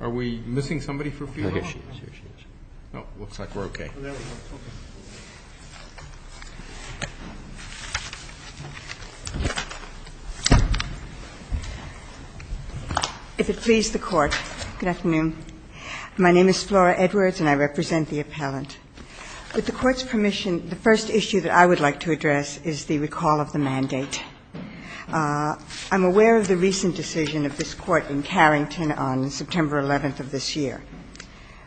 Are we missing somebody for Fiorillo? No, it looks like we're okay. If it please the Court, good afternoon. My name is Flora Edwards, and I represent the appellant. With the Court's permission, the first issue that I would like to address is the recall of the mandate. I'm aware of the recent decision of this Court in Carrington on September 11th of this year.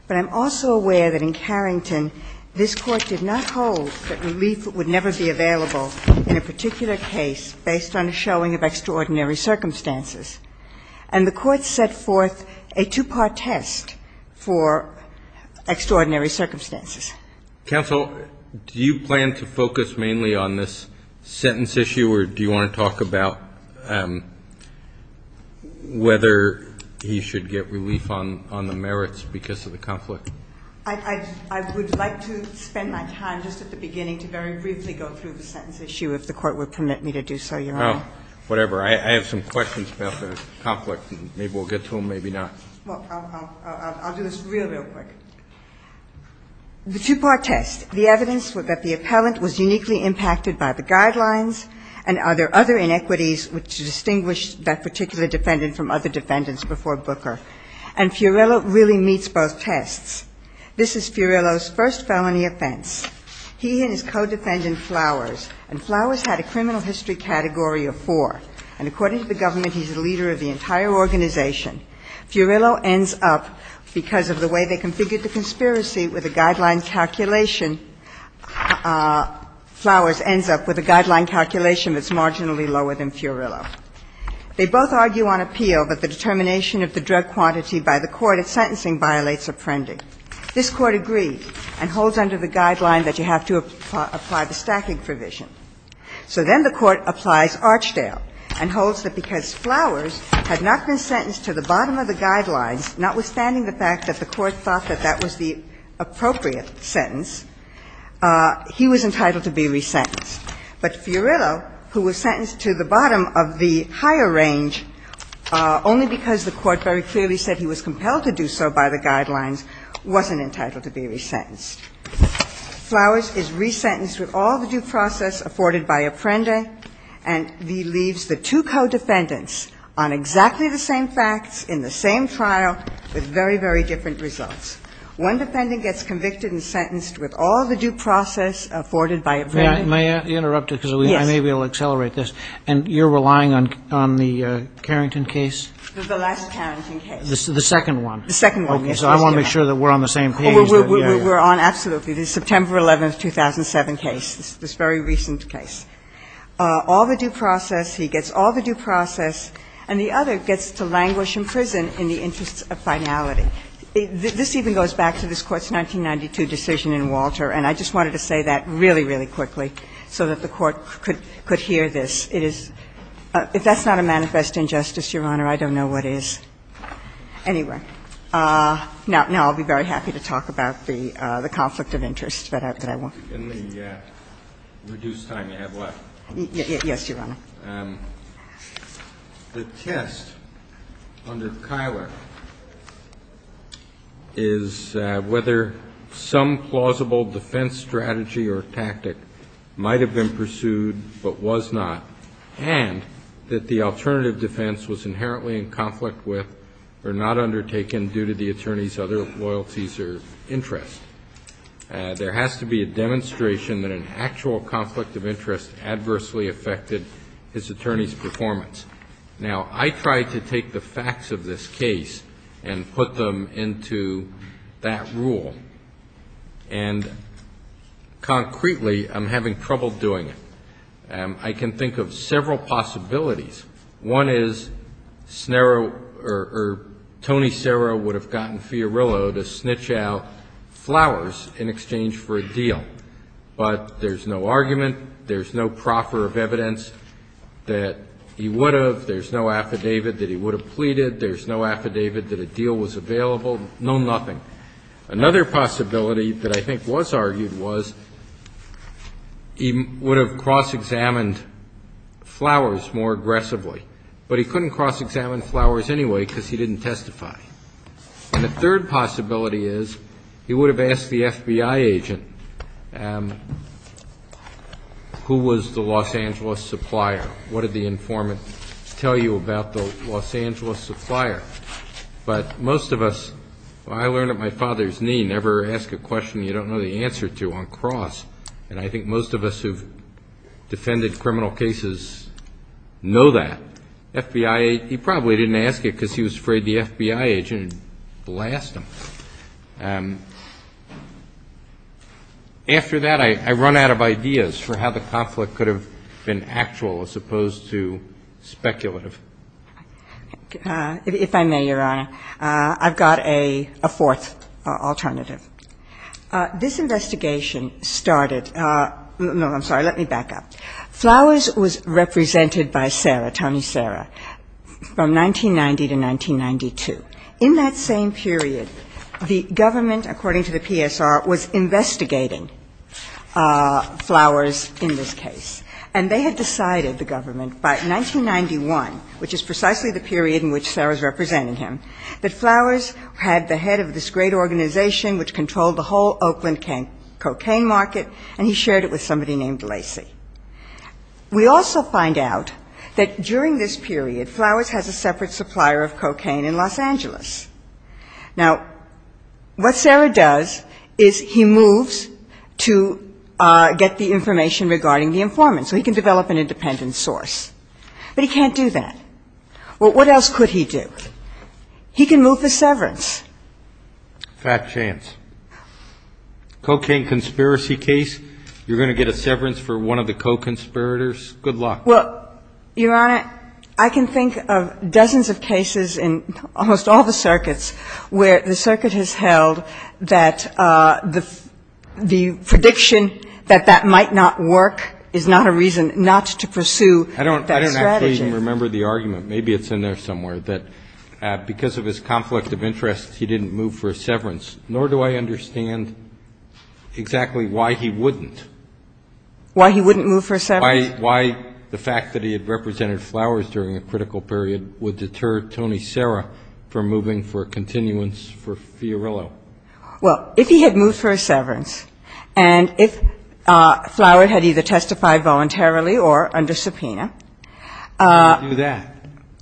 But I'm also aware that in Carrington, this Court did not hold that relief would never be available in a particular case based on a showing of extraordinary circumstances. And the Court set forth a two-part test for extraordinary circumstances. Counsel, do you plan to focus mainly on this sentence issue, or do you want to talk about whether he should get relief on the merits because of the conflict? I would like to spend my time just at the beginning to very briefly go through the sentence issue, if the Court would permit me to do so, Your Honor. Oh, whatever. I have some questions about the conflict, and maybe we'll get to them, maybe not. I'll do this real, real quick. The two-part test, the evidence that the appellant was uniquely impacted by the guidelines and other inequities which distinguished that particular defendant from other defendants before Booker. And Fiorello really meets both tests. This is Fiorello's first felony offense. He and his co-defendant Flowers, and Flowers had a criminal history category of four. And according to the government, he's the leader of the entire organization. Fiorello ends up, because of the way they configured the conspiracy with the guideline calculation, Flowers ends up with a guideline calculation that's marginally lower than Fiorello. They both argue on appeal that the determination of the drug quantity by the court at sentencing violates apprending. This Court agreed and holds under the guideline that you have to apply the stacking provision. So then the Court applies Archdale and holds that because Flowers had not been sentenced to the bottom of the guidelines, notwithstanding the fact that the Court thought that that was the appropriate sentence, he was entitled to be resentenced. But Fiorello, who was sentenced to the bottom of the higher range only because the Court very clearly said he was compelled to do so by the guidelines, wasn't entitled to be resentenced. Flowers is resentenced with all the due process afforded by apprending, and he leaves the two co-defendants on exactly the same facts, in the same trial, with very, very different results. One defendant gets convicted and sentenced with all the due process afforded by apprending. Kagan. May I interrupt you, because I may be able to accelerate this. And you're relying on the Carrington case? The last Carrington case. The second one. The second one, yes. Okay. So I want to make sure that we're on the same page. We're on, absolutely, the September 11th, 2007 case, this very recent case. All the due process. He gets all the due process. And the other gets to languish in prison in the interest of finality. This even goes back to this Court's 1992 decision in Walter, and I just wanted to say that really, really quickly so that the Court could hear this. It is – if that's not a manifest injustice, Your Honor, I don't know what is. Anyway, now I'll be very happy to talk about the conflict of interest that I want. In the reduced time you have left. Yes, Your Honor. The test under Kyler is whether some plausible defense strategy or tactic might have been pursued but was not, and that the alternative defense was inherently in conflict with or not undertaken due to the attorney's other loyalties or interests. There has to be a demonstration that an actual conflict of interest adversely affected his attorney's performance. Now, I tried to take the facts of this case and put them into that rule, and concretely I'm having trouble doing it. I can think of several possibilities. One is Tony Serra would have gotten Fiorillo to snitch out flowers in exchange for a deal, but there's no argument, there's no proffer of evidence that he would have, there's no affidavit that he would have pleaded, there's no affidavit that a deal was available, no nothing. Another possibility that I think was argued was he would have cross-examined flowers more aggressively. But he couldn't cross-examine flowers anyway because he didn't testify. And the third possibility is he would have asked the FBI agent who was the Los Angeles supplier, what did the informant tell you about the Los Angeles supplier. But most of us, I learned at my father's knee, never ask a question you don't know the answer to on cross. And I think most of us who have defended criminal cases know that. FBI, he probably didn't ask it because he was afraid the FBI agent would blast him. After that, I run out of ideas for how the conflict could have been actual as opposed to speculative. If I may, Your Honor, I've got a fourth alternative. This investigation started, no, I'm sorry, let me back up. Flowers was represented by Sarah, Tony Sarah, from 1990 to 1992. In that same period, the government, according to the PSR, was investigating Flowers in this case. And they had decided, the government, by 1991, which is precisely the period in which controlled the whole Oakland cocaine market, and he shared it with somebody named Lacey. We also find out that during this period, Flowers has a separate supplier of cocaine in Los Angeles. Now, what Sarah does is he moves to get the information regarding the informant, so he can develop an independent source. But he can't do that. Well, what else could he do? He can move the severance. Fat chance. Fat chance. Cocaine conspiracy case, you're going to get a severance for one of the co-conspirators. Good luck. Well, Your Honor, I can think of dozens of cases in almost all the circuits where the circuit has held that the prediction that that might not work is not a reason I don't actually remember the argument. Maybe it's in there somewhere, that because of his conflict of interest, he didn't move for a severance, nor do I understand exactly why he wouldn't. Why he wouldn't move for a severance? Why the fact that he had represented Flowers during a critical period would deter Tony Serra from moving for a continuance for Fiorillo. Well, if he had moved for a severance, and if Flowers had either testified voluntarily or under subpoena, why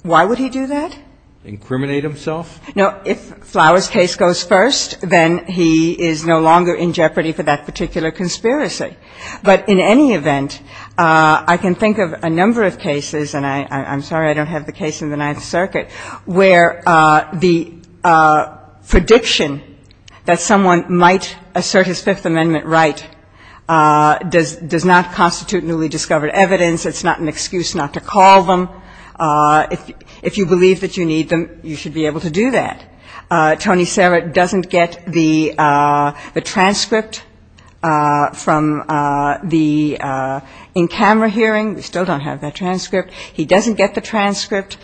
would he do that? Incriminate himself? No. If Flowers' case goes first, then he is no longer in jeopardy for that particular conspiracy. But in any event, I can think of a number of cases, and I'm sorry I don't have the case in the Ninth Circuit, where the prediction that someone might assert his Fifth Circuit is not an excuse not to call them. If you believe that you need them, you should be able to do that. Tony Serra doesn't get the transcript from the in-camera hearing. We still don't have that transcript. He doesn't get the transcript.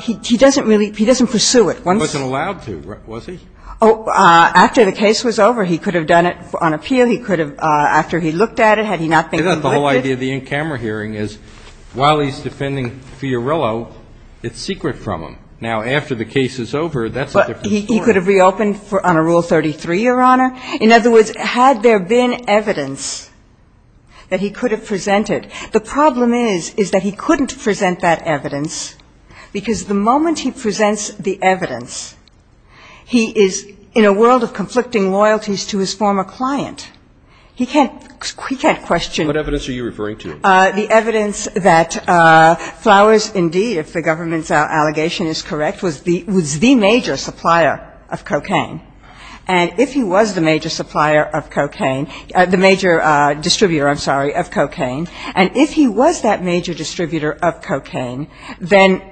He doesn't really – he doesn't pursue it. He wasn't allowed to, was he? After the case was over, he could have done it on appeal. He could have, after he looked at it, had he not been convicted. The whole idea of the in-camera hearing is, while he's defending Fiorello, it's secret from him. Now, after the case is over, that's a different story. But he could have reopened on a Rule 33, Your Honor. In other words, had there been evidence that he could have presented, the problem is, is that he couldn't present that evidence, because the moment he presents the evidence, he is in a world of conflicting loyalties to his former client. He can't question. And what evidence are you referring to? The evidence that Flowers, indeed, if the government's allegation is correct, was the major supplier of cocaine. And if he was the major supplier of cocaine – the major distributor, I'm sorry, of cocaine, and if he was that major distributor of cocaine, then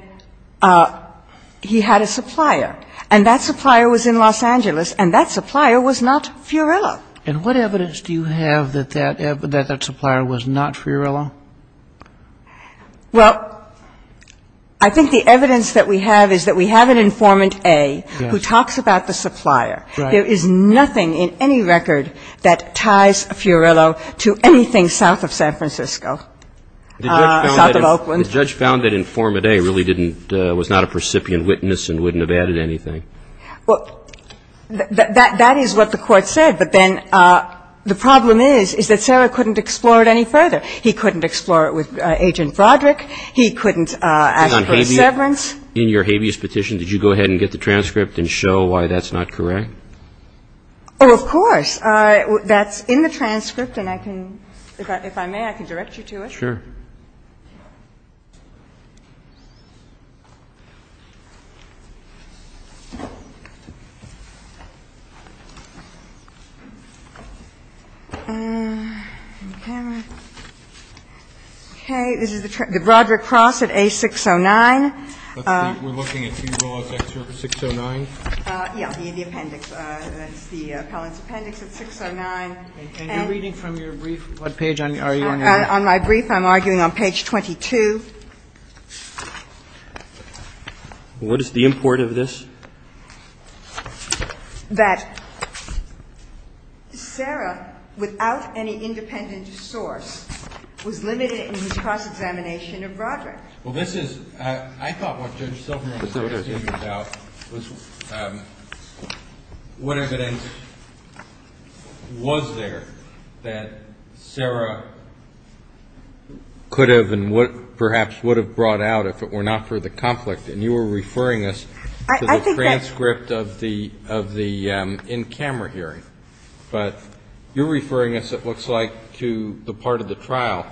he had a supplier. And that supplier was in Los Angeles, and that supplier was not Fiorello. And what evidence do you have that that supplier was not Fiorello? Well, I think the evidence that we have is that we have an informant A who talks about the supplier. Right. There is nothing in any record that ties Fiorello to anything south of San Francisco or south of Oakland. The judge found that informant A really didn't – was not a precipient witness and wouldn't have added anything. Well, that is what the Court said. But then the problem is, is that Sarah couldn't explore it any further. He couldn't explore it with Agent Broderick. He couldn't ask for a severance. In your habeas petition, did you go ahead and get the transcript and show why that's not correct? Oh, of course. That's in the transcript, and I can – if I may, I can direct you to it. Sure. Okay. This is the – the Broderick Cross at A609. That's the – we're looking at B. Rose, Excerpt 609? Yeah. The appendix. That's the appellant's appendix at 609. And you're reading from your brief? On my brief. I'm already on my brief. Okay. I'm arguing on page 22. What is the import of this? That Sarah, without any independent source, was limited in his cross-examination of Broderick. Well, this is – I thought what Judge Silverman was asking about was what evidence was there that Sarah could have and perhaps would have brought out if it were not for the conflict. And you were referring us to the transcript of the in-camera hearing. But you're referring us, it looks like, to the part of the trial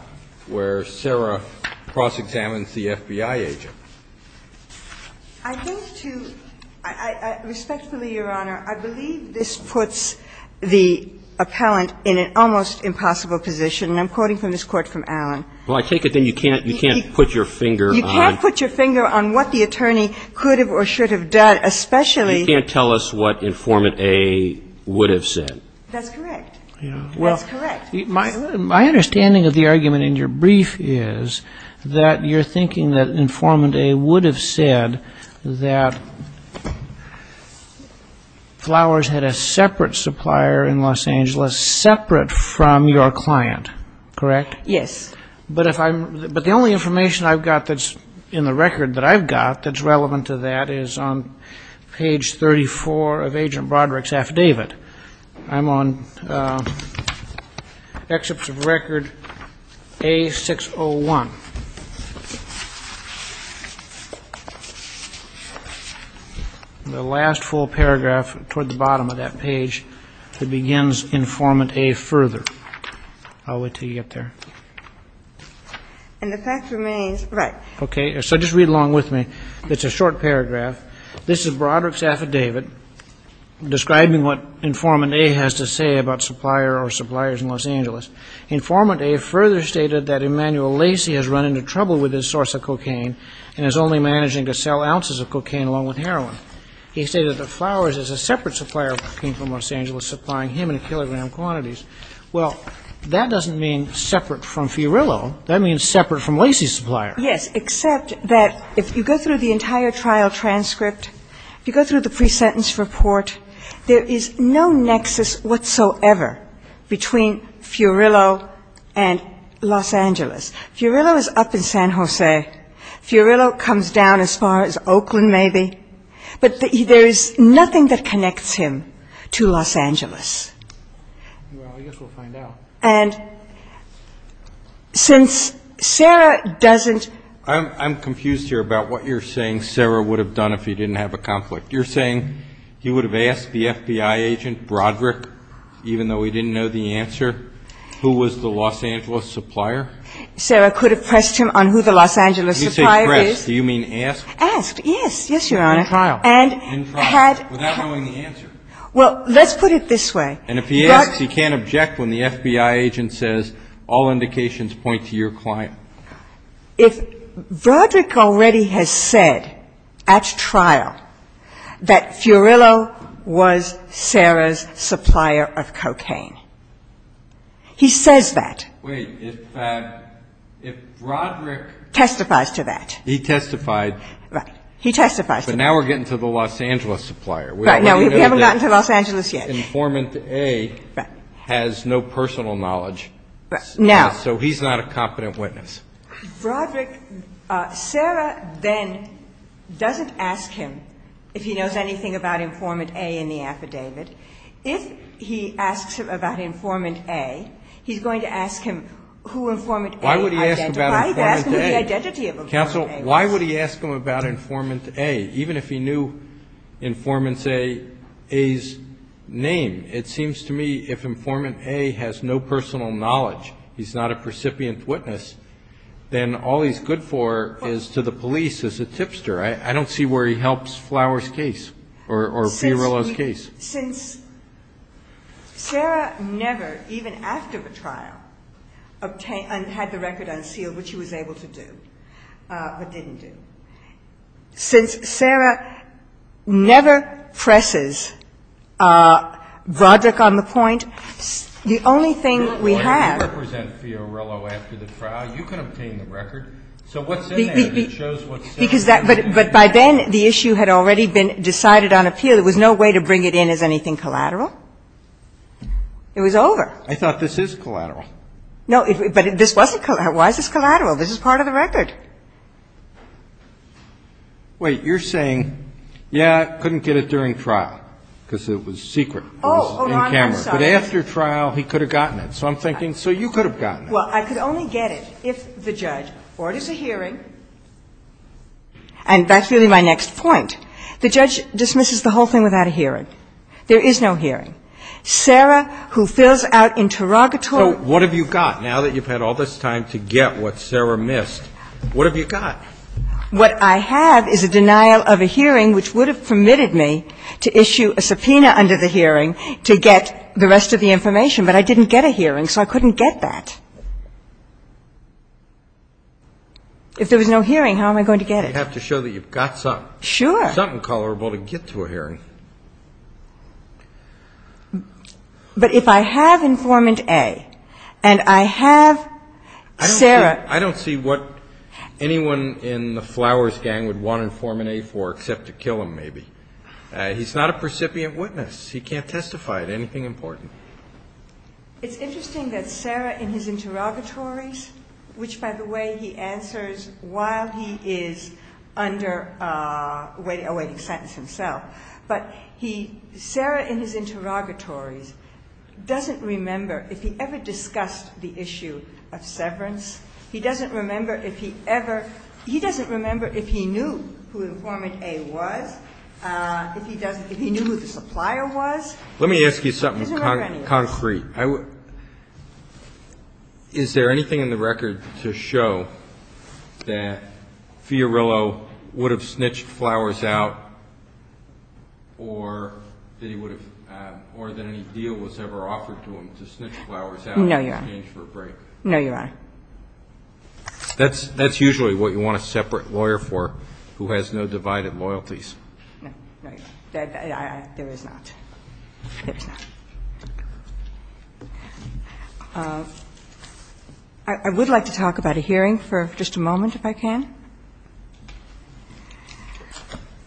where Sarah cross-examines the FBI agent. I think to – respectfully, Your Honor, I believe this puts the appellant in an almost impossible position. And I'm quoting from this court from Allen. Well, I take it then you can't – you can't put your finger on – You can't put your finger on what the attorney could have or should have done, especially – You can't tell us what Informant A would have said. That's correct. That's correct. My understanding of the argument in your brief is that you're thinking that Informant A would have said that Flowers had a separate supplier in Los Angeles, separate from your client, correct? Yes. But if I'm – but the only information I've got that's in the record that I've got that's relevant to that is on page 34 of Agent Broderick's affidavit. I'm on excerpts of record A601. The last full paragraph toward the bottom of that page that begins Informant A further. I'll wait until you get there. And the fact remains, right. Okay. So just read along with me. It's a short paragraph. This is Broderick's affidavit describing what Informant A has to say about supplier or suppliers in Los Angeles. Informant A further stated that Emanuel Lacy has run into trouble with his source of cocaine and is only managing to sell ounces of cocaine along with heroin. He stated that Flowers has a separate supplier who came from Los Angeles supplying him in kilogram quantities. Well, that doesn't mean separate from Fiorillo. That means separate from Lacy's supplier. Yes, except that if you go through the entire trial transcript, if you go through the pre-sentence report, there is no nexus whatsoever between Fiorillo and Los Angeles. Fiorillo is up in San Jose. Fiorillo comes down as far as Oakland maybe. But there is nothing that connects him to Los Angeles. Well, I guess we'll find out. And since Sarah doesn't ---- I'm confused here about what you're saying Sarah would have done if he didn't have a conflict. You're saying he would have asked the FBI agent Broderick, even though he didn't know the answer, who was the Los Angeles supplier? Sarah could have pressed him on who the Los Angeles supplier is. You say pressed. Do you mean asked? Asked, yes. Yes, Your Honor. In trial. In trial, without knowing the answer. Well, let's put it this way. And if he asks, he can't object when the FBI agent says all indications point to your client. If Broderick already has said at trial that Fiorillo was Sarah's supplier of cocaine, he says that. Wait. If Broderick ---- Testifies to that. He testified. Right. He testifies to that. But now we're getting to the Los Angeles supplier. Right. Now we haven't gotten to Los Angeles yet. So he's not a competent witness. Right. And he knows that the informant A has no personal knowledge. Right. Now ---- So he's not a competent witness. Broderick ---- Sarah then doesn't ask him if he knows anything about informant A in the affidavit. If he asks him about informant A, he's going to ask him who informant A identified as. Counsel, why would he ask him about informant A, even if he knew informant A's name? It seems to me if informant A has no personal knowledge, he's not a precipient witness, then all he's good for is to the police as a tipster. I don't see where he helps Flower's case or Fiorello's case. Since Sarah never, even after the trial, obtained or had the record unsealed which she was able to do, but didn't do, since Sarah never presses Broderick on the point, the only thing we have ---- You represent Fiorello after the trial. You can obtain the record. So what's in there that shows what's in there? But by then the issue had already been decided on appeal. There was no way to bring it in as anything collateral. It was over. I thought this is collateral. No. But this wasn't collateral. Why is this collateral? This is part of the record. Wait. You're saying, yeah, I couldn't get it during trial because it was secret. It was in camera. Oh, Your Honor, I'm sorry. But after trial, he could have gotten it. So I'm thinking, so you could have gotten it. Well, I could only get it if the judge orders a hearing. And that's really my next point. The judge dismisses the whole thing without a hearing. There is no hearing. Sarah, who fills out interrogatory ---- So what have you got now that you've had all this time to get what Sarah missed? What have you got? What I have is a denial of a hearing which would have permitted me to issue a subpoena under the hearing to get the rest of the information. But I didn't get a hearing, so I couldn't get that. If there was no hearing, how am I going to get it? You have to show that you've got something. Sure. Something colorable to get to a hearing. But if I have informant A and I have Sarah ---- I don't see what anyone in the Flowers gang would want informant A for except to kill him, maybe. He's not a precipient witness. He can't testify to anything important. It's interesting that Sarah, in his interrogatories, which, by the way, he answers while he is under a waiting sentence himself. But he ---- Sarah, in his interrogatories, doesn't remember if he ever discussed the issue of severance. He doesn't remember if he ever ---- he doesn't remember if he knew who informant A was, if he knew who the supplier was. Let me ask you something concrete. Is there anything in the record to show that Fiorillo would have snitched Flowers out or that he would have ---- or that any deal was ever offered to him to snitch Flowers out in exchange for a break? No, Your Honor. No, Your Honor. That's usually what you want a separate lawyer for who has no divided loyalties. No, Your Honor. There is not. There is not. I would like to talk about a hearing for just a moment, if I can.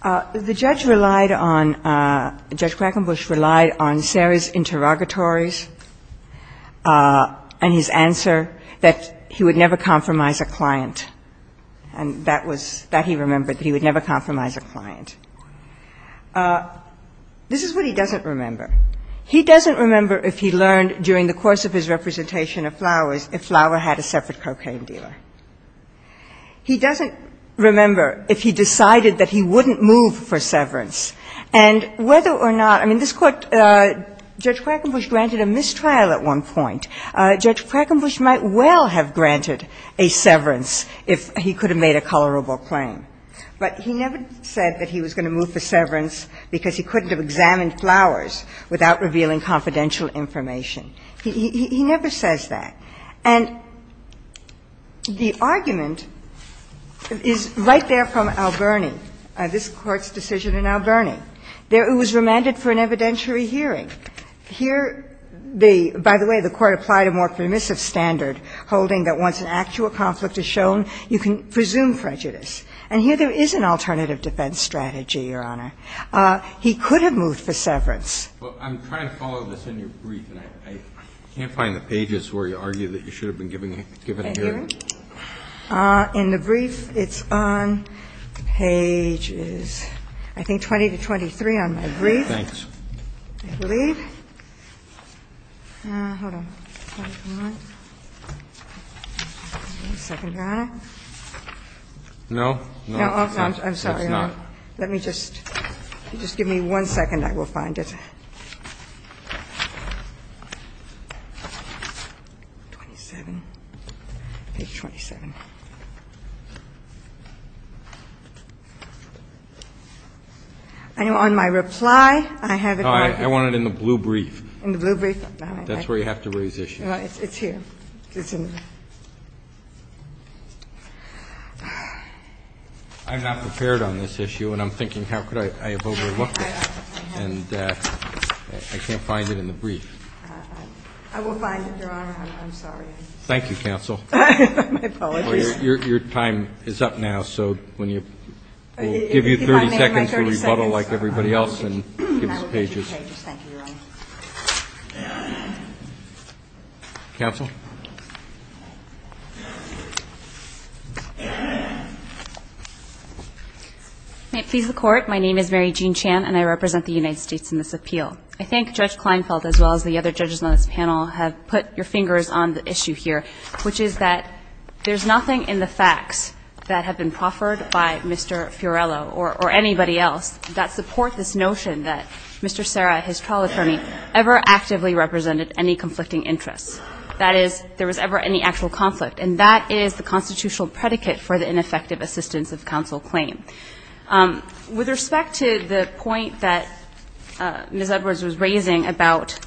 The judge relied on ---- Judge Quackenbush relied on Sarah's interrogatories and his answer that he would never compromise a client. And that was ---- that he remembered, that he would never compromise a client. This is what he doesn't remember. He doesn't remember if he learned during the course of his representation of Flowers if Flowers had a separate cocaine dealer. He doesn't remember if he decided that he wouldn't move for severance. And whether or not ---- I mean, this Court ---- Judge Quackenbush granted a mistrial at one point. Judge Quackenbush might well have granted a severance if he could have made a colorable claim. But he never said that he was going to move for severance because he couldn't have examined Flowers without revealing confidential information. He never says that. And the argument is right there from Alberni, this Court's decision in Alberni. It was remanded for an evidentiary hearing. Here the ---- by the way, the Court applied a more permissive standard holding that once an actual conflict is shown, you can presume prejudice. And here there is an alternative defense strategy, Your Honor. He could have moved for severance. Roberts. Well, I'm trying to follow this in your brief, and I can't find the pages where you argue that you should have been giving a hearing. In the brief, it's on pages, I think, 20 to 23 on my brief. Thanks. I believe. All right. Hold on. One second, Your Honor. No. No. I'm sorry. Let me just ---- just give me one second. I will find it. 27. Page 27. And on my reply, I have it right there. I want it in the blue brief. In the blue brief? That's where you have to raise issues. It's here. I'm not prepared on this issue, and I'm thinking how could I have overlooked it, and I can't find it in the brief. I will find it, Your Honor. I'm sorry. Thank you, counsel. My apologies. Well, your time is up now, so when you ---- 30 seconds, we'll rebuttal like everybody else and give us pages. Thank you, Your Honor. Counsel. May it please the Court. My name is Mary Jean Chan, and I represent the United States in this appeal. I think Judge Kleinfeld, as well as the other judges on this panel, have put your fingers on the issue here, which is that there's nothing in the facts that have been proffered by Mr. Fiorello or anybody else that supports this notion that Mr. Serra, his trial attorney, ever actively represented any conflicting interests. That is, there was ever any actual conflict, and that is the constitutional predicate for the ineffective assistance of counsel claim. With respect to the point that Ms. Edwards was raising about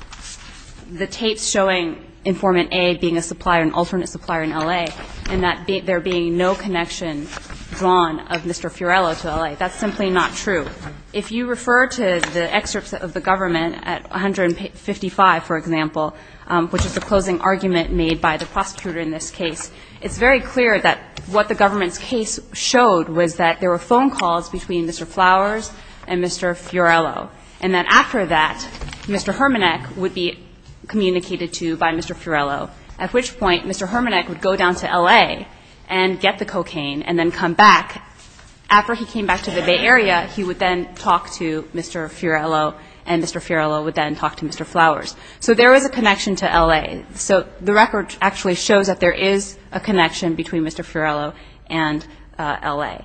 the tapes showing informant A being a supplier, an alternate supplier in L.A., and that there being no connection drawn of Mr. Fiorello to L.A., that's simply not true. If you refer to the excerpts of the government at 155, for example, which is the closing argument made by the prosecutor in this case, it's very clear that what the government's case showed was that there were phone calls between Mr. Flowers and Mr. Fiorello, and that after that, Mr. Hermanek would be communicated to by Mr. Fiorello, at which point Mr. Hermanek would go down to L.A. and get the cocaine and then come back. After he came back to the Bay Area, he would then talk to Mr. Fiorello, and Mr. Fiorello would then talk to Mr. Flowers. So there was a connection to L.A. So the record actually shows that there is a connection between Mr. Fiorello and L.A.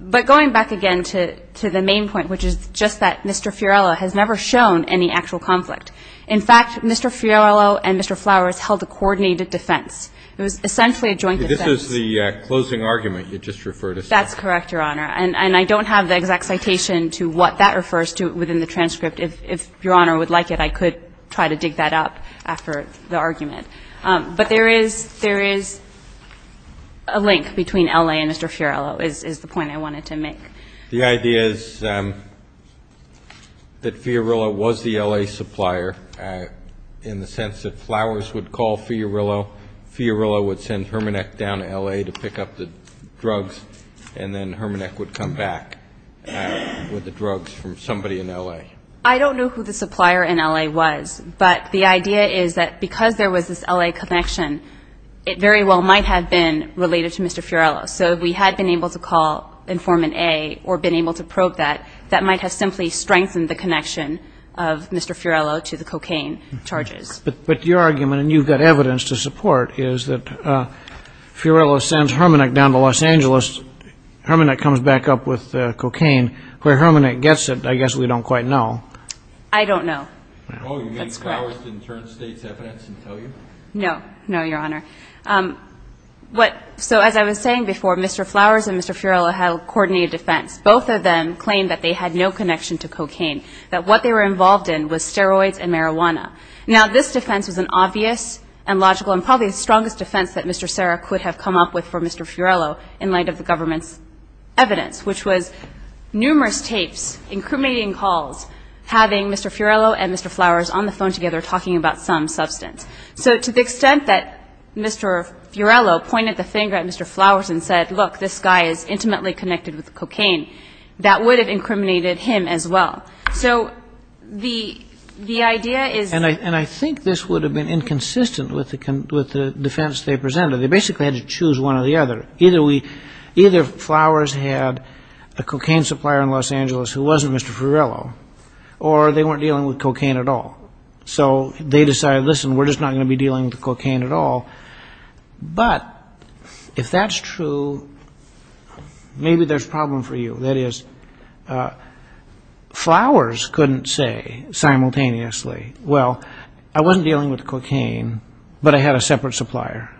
But going back again to the main point, which is just that Mr. Fiorello has never shown any actual conflict. In fact, Mr. Fiorello and Mr. Flowers held a coordinated defense. It was essentially a joint defense. This is the closing argument you just referred us to. That's correct, Your Honor. And I don't have the exact citation to what that refers to within the transcript. If Your Honor would like it, I could try to dig that up after the argument. But there is a link between L.A. and Mr. Fiorello is the point I wanted to make. The idea is that Fiorello was the L.A. supplier in the sense that Flowers would call Fiorello, Fiorello would send Hermannek down to L.A. to pick up the drugs, and then Hermannek would come back with the drugs from somebody in L.A. I don't know who the supplier in L.A. was, but the idea is that because there was this L.A. connection, it very well might have been related to Mr. Fiorello. So if we had been able to call informant A or been able to probe that, that might have simply strengthened the connection of Mr. Fiorello to the cocaine charges. But your argument, and you've got evidence to support, is that Fiorello sends Hermannek down to Los Angeles, Hermannek comes back up with cocaine. Where Hermannek gets it, I guess we don't quite know. I don't know. That's correct. Oh, you mean Flowers didn't turn state's evidence and tell you? No, no, Your Honor. So as I was saying before, Mr. Flowers and Mr. Fiorello had a coordinated defense. Both of them claimed that they had no connection to cocaine, that what they were involved in was steroids and marijuana. Now, this defense was an obvious and logical and probably the strongest defense that Mr. Serra could have come up with for Mr. Fiorello in light of the government's evidence, which was numerous tapes, incriminating calls, having Mr. Fiorello and Mr. Flowers on the phone together talking about some substance. So to the extent that Mr. Fiorello pointed the finger at Mr. Flowers and said, look, this guy is intimately connected with cocaine, that would have incriminated him as well. So the idea is... And I think this would have been inconsistent with the defense they presented. They basically had to choose one or the other. Either Flowers had a cocaine supplier in Los Angeles who wasn't Mr. Fiorello or they weren't dealing with cocaine at all. So they decided, listen, we're just not going to be dealing with cocaine at all. But if that's true, maybe there's a problem for you. That is, Flowers couldn't say simultaneously, well, I wasn't dealing with cocaine, but I had a separate supplier.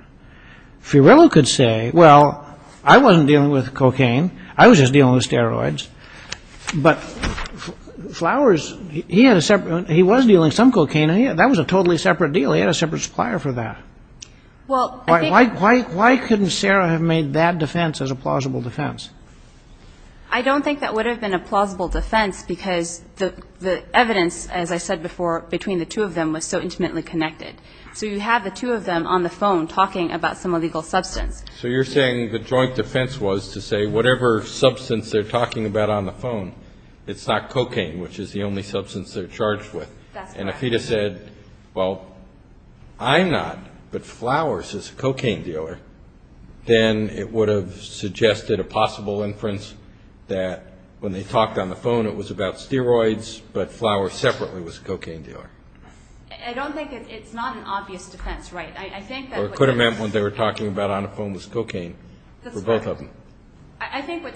Fiorello could say, well, I wasn't dealing with cocaine. I was just dealing with steroids. But Flowers, he was dealing with some cocaine. That was a totally separate deal. He had a separate supplier for that. Why couldn't Sarah have made that defense as a plausible defense? I don't think that would have been a plausible defense because the evidence, as I said before, between the two of them was so intimately connected. So you have the two of them on the phone talking about some illegal substance. So you're saying the joint defense was to say whatever substance they're talking about on the phone, it's not cocaine, which is the only substance they're charged with. And if he had said, well, I'm not, but Flowers is a cocaine dealer, then it would have suggested a possible inference that when they talked on the phone, it was about steroids, but Flowers separately was a cocaine dealer. I don't think it's not an obvious defense, right. Or it could have meant when they were talking about on the phone was cocaine for both of them.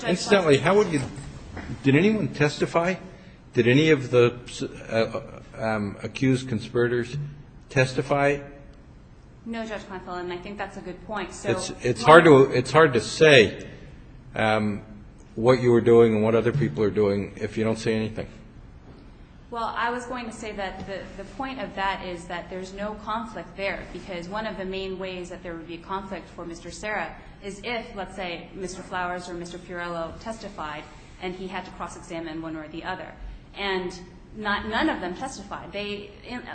Incidentally, how would you, did anyone testify? Did any of the accused conspirators testify? No, Judge Kleinfeld, and I think that's a good point. It's hard to say what you were doing and what other people are doing if you don't say anything. Well, I was going to say that the point of that is that there's no conflict there because one of the main ways that there would be a conflict for Mr. Serra is if, let's say, Mr. Flowers or Mr. Pirello testified and he had to cross-examine one or the other. And none of them testified.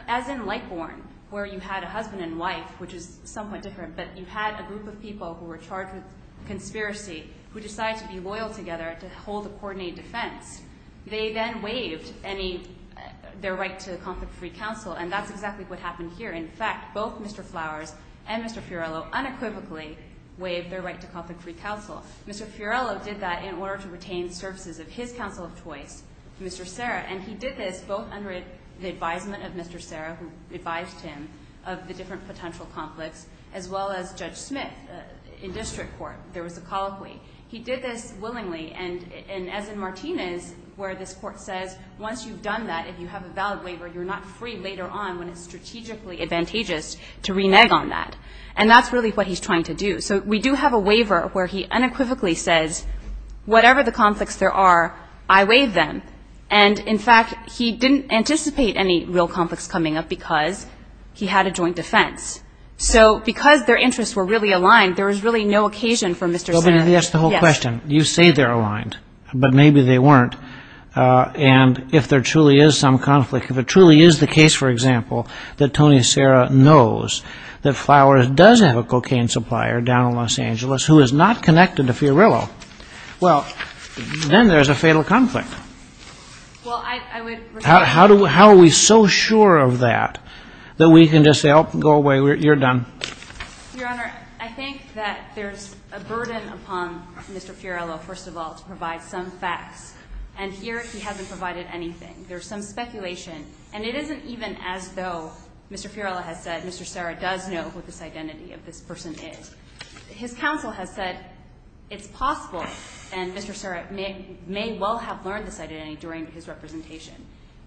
As in Lightborn, where you had a husband and wife, which is somewhat different, but you had a group of people who were charged with conspiracy who decided to be loyal together to hold a coordinated defense. They then waived their right to conflict-free counsel, and that's exactly what happened here. In fact, both Mr. Flowers and Mr. Pirello unequivocally waived their right to conflict-free counsel. Mr. Pirello did that in order to retain services of his counsel of choice, Mr. Serra, and he did this both under the advisement of Mr. Serra, who advised him of the different potential conflicts, as well as Judge Smith in district court. There was a colloquy. He did this willingly, and as in Martinez, where this court says, once you've done that, if you have a valid waiver, you're not free later on when it's strategically advantageous to renege on that. And that's really what he's trying to do. So we do have a waiver where he unequivocally says, whatever the conflicts there are, I waive them. And, in fact, he didn't anticipate any real conflicts coming up because he had a joint defense. So because their interests were really aligned, there was really no occasion for Mr. Serra. Let me ask the whole question. You say they're aligned, but maybe they weren't. And if there truly is some conflict, if it truly is the case, for example, that Tony Serra knows that Flowers does have a cocaine supplier down in Los Angeles who is not connected to Pirello, well, then there's a fatal conflict. How are we so sure of that that we can just say, oh, go away, you're done? Your Honor, I think that there's a burden upon Mr. Pirello, first of all, to provide some facts. And here he hasn't provided anything. There's some speculation. And it isn't even as though Mr. Pirello has said Mr. Serra does know who this identity of this person is. His counsel has said it's possible and Mr. Serra may well have learned this identity during his representation.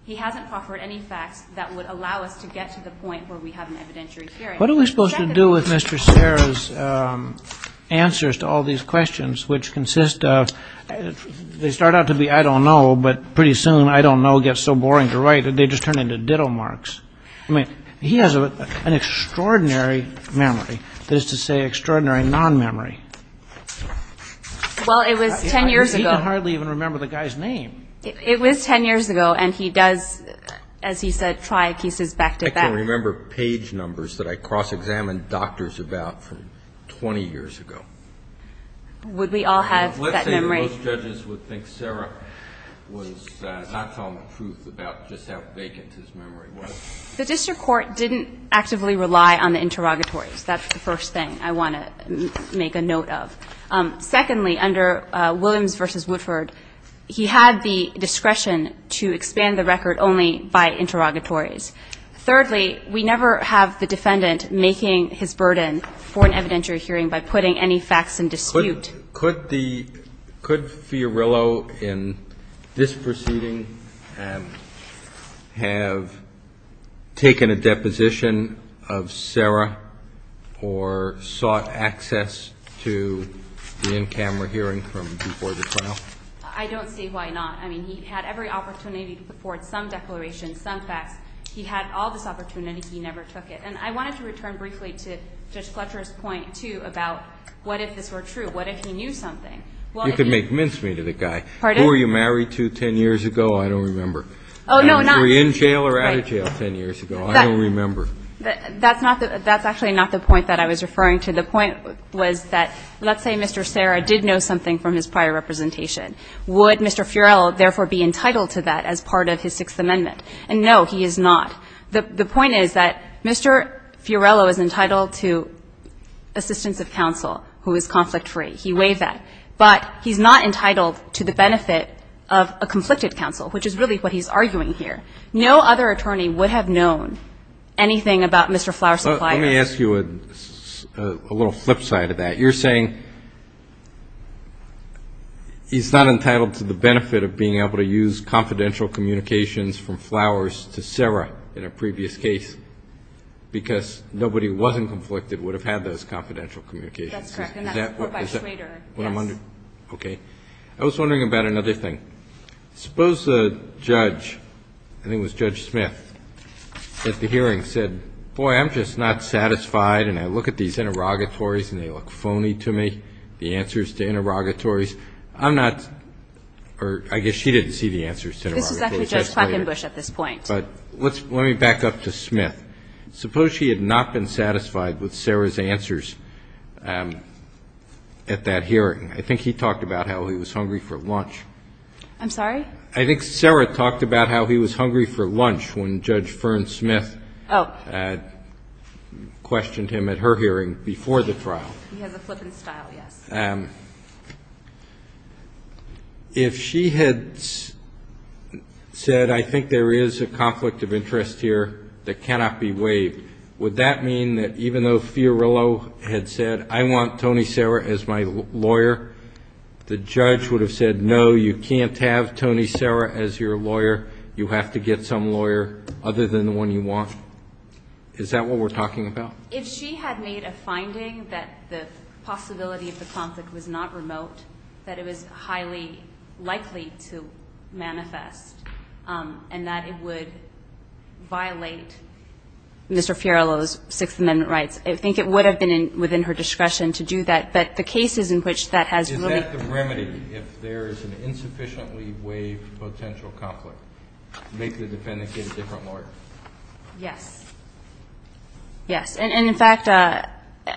He hasn't offered any facts that would allow us to get to the point where we have an evidentiary hearing. What are we supposed to do with Mr. Serra's answers to all these questions, which consist of they start out to be I don't know, but pretty soon I don't know gets so boring to write that they just turn into ditto marks. I mean, he has an extraordinary memory, that is to say extraordinary non-memory. Well, it was 10 years ago. I hardly even remember the guy's name. It was 10 years ago, and he does, as he said, try pieces back to back. I can remember page numbers that I cross-examined doctors about from 20 years ago. Would we all have that memory? Most judges would think Serra was not telling the truth about just how vacant his memory was. The district court didn't actively rely on the interrogatories. That's the first thing I want to make a note of. Secondly, under Williams v. Woodford, he had the discretion to expand the record only by interrogatories. Thirdly, we never have the defendant making his burden for an evidentiary hearing by putting any facts in dispute. Could Fiorillo in this proceeding have taken a deposition of Serra or sought access to the in-camera hearing from before the trial? I don't see why not. I mean, he had every opportunity to put forward some declarations, some facts. He had all this opportunity. He never took it. And I wanted to return briefly to Judge Fletcher's point, too, about what if this were true? What if he knew something? Well, it didn't. You could make mincemeat of the guy. Pardon? Who were you married to 10 years ago? I don't remember. Oh, no. Were you in jail or out of jail 10 years ago? I don't remember. That's not the – that's actually not the point that I was referring to. The point was that let's say Mr. Serra did know something from his prior representation. Would Mr. Fiorillo therefore be entitled to that as part of his Sixth Amendment? And no, he is not. The point is that Mr. Fiorillo is entitled to assistance of counsel who is conflict-free. He waived that. But he's not entitled to the benefit of a conflicted counsel, which is really what he's arguing here. No other attorney would have known anything about Mr. Flower Supplier. Let me ask you a little flip side of that. You're saying he's not entitled to the benefit of being able to use confidential communications from Flowers to Serra. In a previous case, because nobody who wasn't conflicted would have had those confidential communications. That's correct. And that's a report by Schrader, yes. Okay. I was wondering about another thing. Suppose a judge, I think it was Judge Smith, at the hearing said, boy, I'm just not satisfied and I look at these interrogatories and they look phony to me, the answers to interrogatories. I'm not – or I guess she didn't see the answers to interrogatories. This is actually Judge Clackenbush at this point. But let me back up to Smith. Suppose she had not been satisfied with Serra's answers at that hearing. I think he talked about how he was hungry for lunch. I'm sorry? I think Serra talked about how he was hungry for lunch when Judge Fern Smith questioned him at her hearing before the trial. He has a flippant style, yes. If she had said, I think there is a conflict of interest here that cannot be waived, would that mean that even though Fiorillo had said, I want Tony Serra as my lawyer, the judge would have said, no, you can't have Tony Serra as your lawyer. You have to get some lawyer other than the one you want. Is that what we're talking about? If she had made a finding that the possibility of the conflict was not remote, that it was highly likely to manifest, and that it would violate Mr. Fiorillo's Sixth Amendment rights, I think it would have been within her discretion to do that. But the cases in which that has really – Is that the remedy, if there is an insufficiently waived potential conflict, make the defendant get a different lawyer? Yes. Yes. And in fact,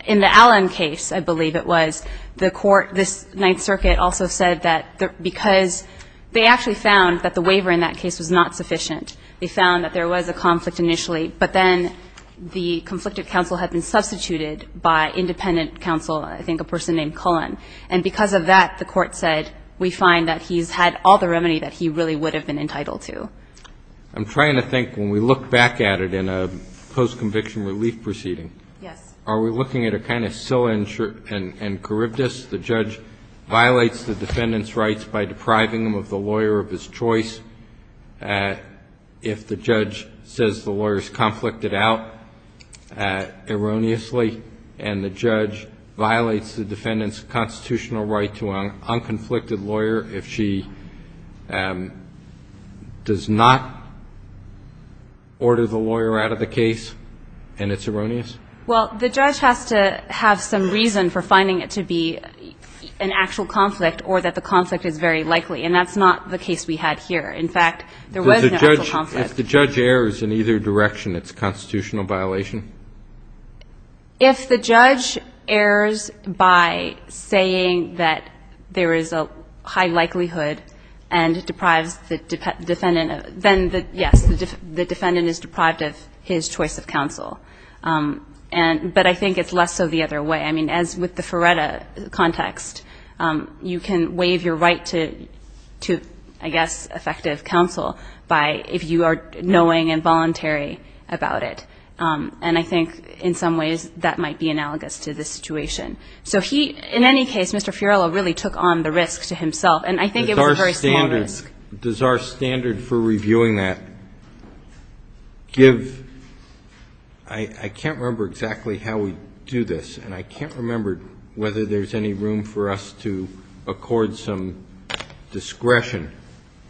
in the Allen case, I believe it was, the court, this Ninth Circuit also said that because they actually found that the waiver in that case was not sufficient. They found that there was a conflict initially, but then the conflicted counsel had been substituted by independent counsel, I think a person named Cullen. And because of that, the court said, we find that he's had all the remedy that he really would have been entitled to. I'm trying to think, when we look back at it in a post-conviction relief proceeding. Yes. Are we looking at a kind of scilla and charybdis? The judge violates the defendant's rights by depriving them of the lawyer of his choice if the judge says the lawyer is conflicted out erroneously, and the judge violates the defendant's constitutional right to an unconflicted lawyer if she does not order the lawyer out of the case and it's erroneous? Well, the judge has to have some reason for finding it to be an actual conflict or that the conflict is very likely. And that's not the case we had here. In fact, there was an actual conflict. If the judge errs in either direction, it's a constitutional violation? If the judge errs by saying that there is a high likelihood and deprives the defendant of his choice of counsel. But I think it's less so the other way. I mean, as with the Ferretta context, you can waive your right to, I guess, effective counsel if you are knowing and voluntary about it. And I think in some ways that might be analogous to this situation. So he, in any case, Mr. Fiorillo really took on the risk to himself. And I think it was a very small risk. Does our standard for reviewing that give ñ I can't remember exactly how we do this. And I can't remember whether there's any room for us to accord some discretion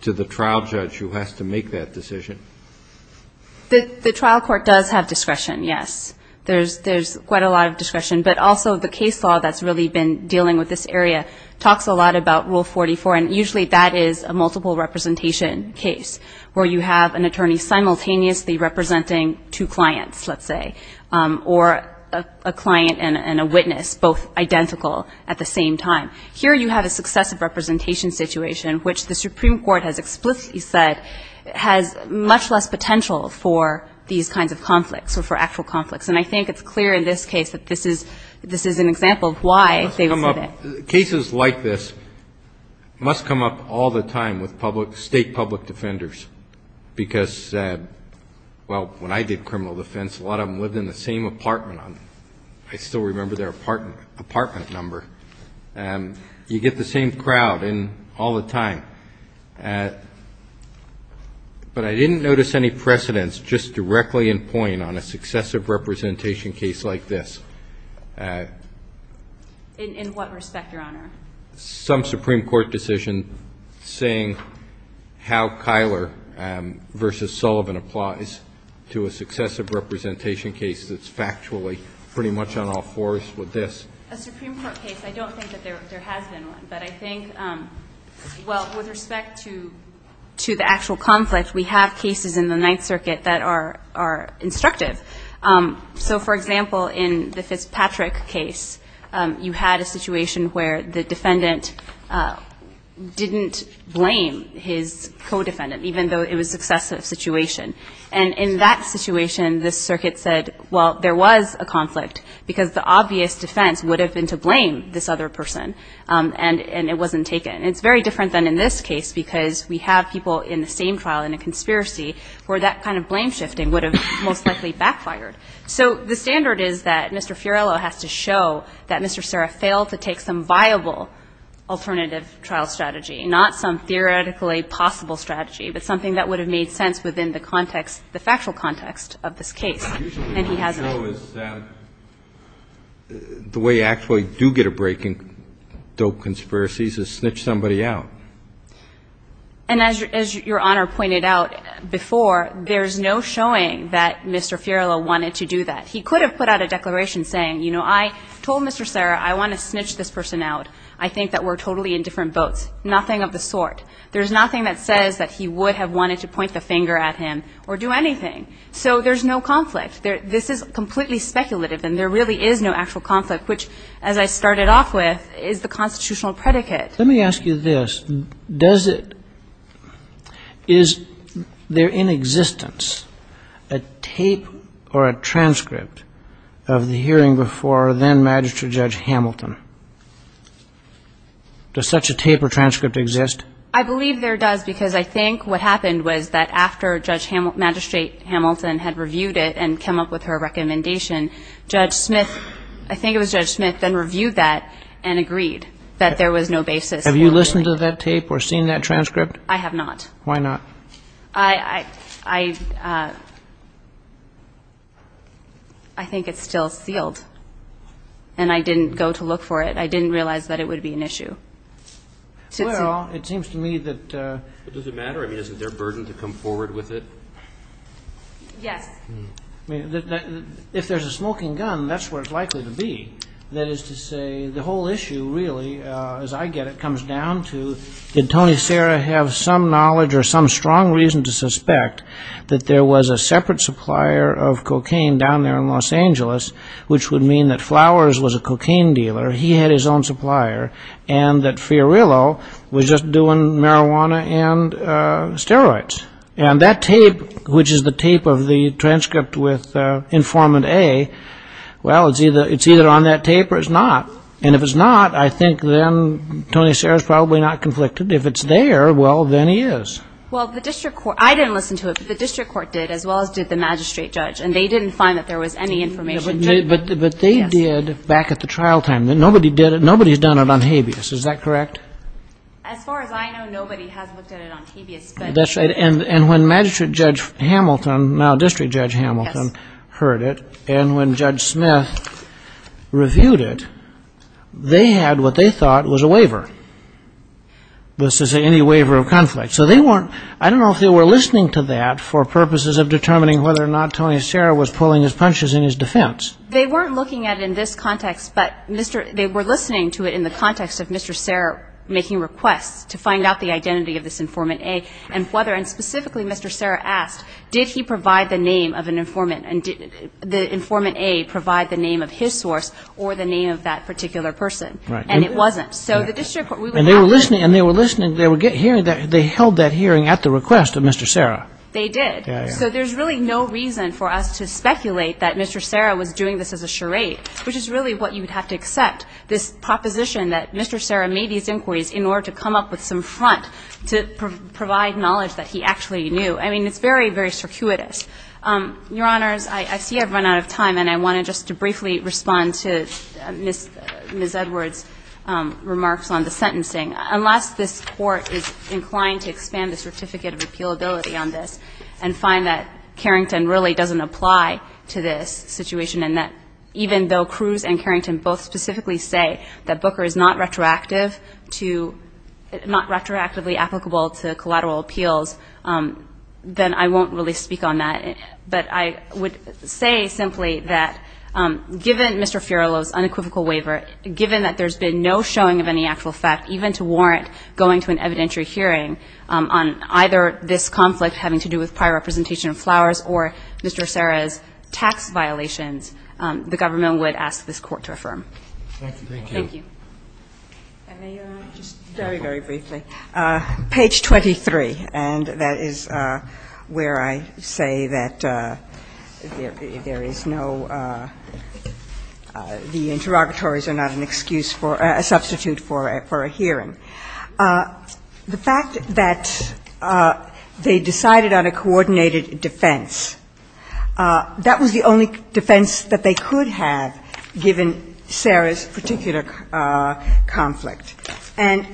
to the trial judge who has to make that decision. The trial court does have discretion, yes. There's quite a lot of discretion. But also the case law that's really been dealing with this area talks a lot about Rule 44. And usually that is a multiple representation case, where you have an attorney simultaneously representing two clients, let's say, or a client and a witness, both identical at the same time. Here you have a successive representation situation, which the Supreme Court has explicitly said has much less potential for these kinds of conflicts or for actual conflicts. And I think it's clear in this case that this is an example of why they would say that. Now, cases like this must come up all the time with state public defenders. Because, well, when I did criminal defense, a lot of them lived in the same apartment. I still remember their apartment number. You get the same crowd all the time. But I didn't notice any precedents just directly in point on a successive representation case like this. In what respect, Your Honor? Some Supreme Court decision saying how Kyler v. Sullivan applies to a successive representation case that's factually pretty much on all fours with this. A Supreme Court case. I don't think that there has been one. But I think, well, with respect to the actual conflict, we have cases in the Ninth Circuit that are instructive. So, for example, in the Fitzpatrick case, you had a situation where the defendant didn't blame his co-defendant, even though it was a successive situation. And in that situation, the circuit said, well, there was a conflict because the obvious defense would have been to blame this other person, and it wasn't taken. And it's very different than in this case because we have people in the same trial in a conspiracy where that kind of blame shifting would have most likely backfired. So the standard is that Mr. Fiorello has to show that Mr. Serra failed to take some viable alternative trial strategy, not some theoretically possible strategy, but something that would have made sense within the context, the factual context of this case, and he hasn't. The way you actually do get a break in dope conspiracies is snitch somebody out. And as your Honor pointed out before, there's no showing that Mr. Fiorello wanted to do that. He could have put out a declaration saying, you know, I told Mr. Serra I want to snitch this person out. I think that we're totally in different boats. Nothing of the sort. There's nothing that says that he would have wanted to point the finger at him or do anything. So there's no conflict. This is completely speculative, and there really is no actual conflict, which, as I started off with, is the constitutional predicate. Let me ask you this. Does it – is there in existence a tape or a transcript of the hearing before then-Magistrate Judge Hamilton? Does such a tape or transcript exist? I believe there does, because I think what happened was that after Judge – Magistrate Hamilton had reviewed it and came up with her recommendation, Judge Smith – I think it was Judge Smith – then reviewed that and agreed that there was no basis for a hearing. Have you listened to that tape or seen that transcript? I have not. Why not? I – I think it's still sealed, and I didn't go to look for it. I didn't realize that it would be an issue. Well, it seems to me that – But does it matter? I mean, isn't there a burden to come forward with it? Yes. I mean, if there's a smoking gun, that's where it's likely to be. That is to say, the whole issue, really, as I get it, comes down to, did Tony Serra have some knowledge or some strong reason to suspect that there was a separate supplier of cocaine down there in Los Angeles, which would mean that Flowers was a cocaine dealer, he had his own supplier, and that Fiorillo was just doing marijuana and steroids. And that tape, which is the tape of the transcript with informant A, well, it's either on that tape or it's not. And if it's not, I think then Tony Serra's probably not conflicted. If it's there, well, then he is. Well, the district court – I didn't listen to it, but the district court did, as well as did the magistrate judge, and they didn't find that there was any information. But they did back at the trial time. Nobody did it – nobody's done it on habeas. Is that correct? As far as I know, nobody has looked at it on habeas. That's right. And when magistrate judge Hamilton, now district judge Hamilton, heard it, and when Judge Smith reviewed it, they had what they thought was a waiver, was to say any waiver of conflict. So they weren't – I don't know if they were listening to that for purposes of determining whether or not Tony Serra was pulling his punches in his defense. They weren't looking at it in this context, but they were listening to it in the context of Mr. Serra making requests to find out the identity of this informant A, and whether – and specifically Mr. Serra asked, did he provide the name of an informant and did the informant A provide the name of his source or the name of that particular person. Right. And it wasn't. So the district court – And they were listening – and they were listening – they were hearing that – they held that hearing at the request of Mr. Serra. They did. Yeah, yeah. So there's really no reason for us to speculate that Mr. Serra was doing this as a charade, which is really what you would have to accept, this proposition that Mr. Serra made these inquiries in order to come up with some front to provide knowledge that he actually knew. I mean, it's very, very circuitous. Your Honors, I see I've run out of time, and I wanted just to briefly respond to Ms. Edwards' remarks on the sentencing. Unless this Court is inclined to expand the certificate of appealability on this and find that Carrington really doesn't apply to this situation and that even though Cruz and Carrington both specifically say that Booker is not retroactive to – not retroactively applicable to collateral appeals, then I won't really speak on that. But I would say simply that given Mr. Fiorillo's unequivocal waiver, given that there's been no showing of any actual effect, even to warrant going to an evidentiary hearing on either this conflict having to do with prior representation of Flowers or Mr. Serra's tax violations, the government would ask this Court to affirm. Thank you. And may I just very, very briefly, page 23, and that is where I say that there is no – the interrogatories are not an excuse for – a substitute for a hearing. The fact that they decided on a coordinated defense, that was the only defense that they could have given Serra's particular conflict. And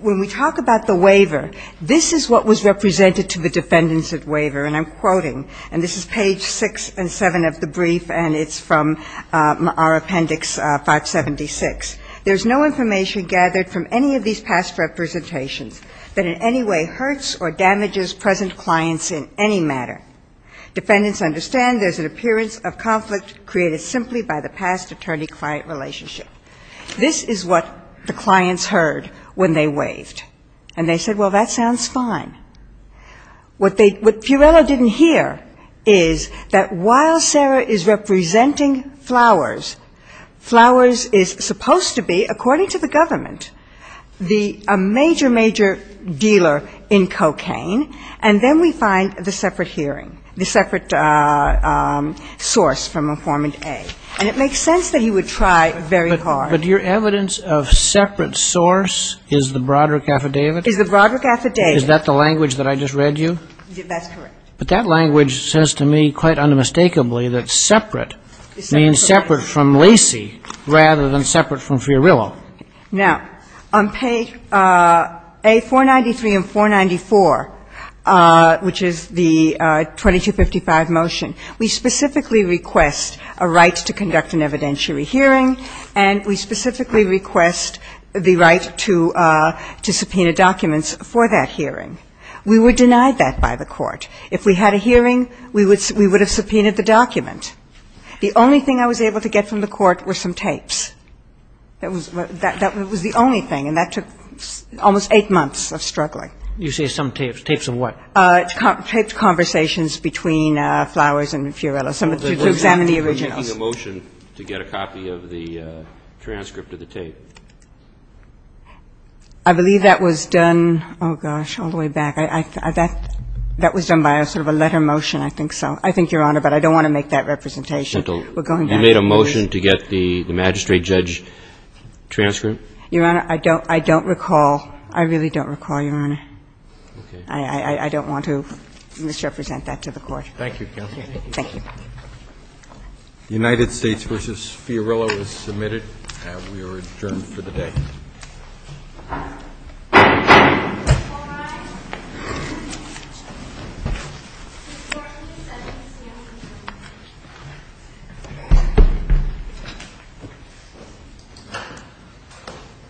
when we talk about the waiver, this is what was represented to the defendants at waiver, and I'm quoting. And this is page 6 and 7 of the brief, and it's from our appendix 576. There's no information gathered from any of these past representations that in any way hurts or damages present clients in any manner. Defendants understand there's an appearance of conflict created simply by the past attorney-client relationship. This is what the clients heard when they waived. And they said, well, that sounds fine. What they – what Fiorillo didn't hear is that while Serra is representing Flowers, Flowers is supposed to be, according to the government, the – a major, major dealer in cocaine, and then we find the separate hearing, the separate source from informant A. And it makes sense that he would try very hard. But your evidence of separate source is the Broderick Affidavit? Is the Broderick Affidavit. Is that the language that I just read you? That's correct. But that language says to me quite unmistakably that separate means separate from Lacey rather than separate from Fiorillo. Now, on page A493 and 494, which is the 2255 motion, we specifically request a right to conduct an evidentiary hearing, and we specifically request the right to subpoena documents for that hearing. We were denied that by the Court. If we had a hearing, we would have subpoenaed the document. The only thing I was able to get from the Court were some tapes. That was the only thing, and that took almost eight months of struggling. You say some tapes. Tapes of what? Taped conversations between Flowers and Fiorillo to examine the originals. I believe that was done, oh, gosh, all the way back. That was done by sort of a letter motion, I think so. I think, Your Honor, but I don't want to make that representation. We're going back. You made a motion to get the magistrate judge transcript? Your Honor, I don't recall. I really don't recall, Your Honor. Okay. I don't want to misrepresent that to the Court. Thank you, counsel. Thank you. The United States v. Fiorillo was submitted. We are adjourned for the day.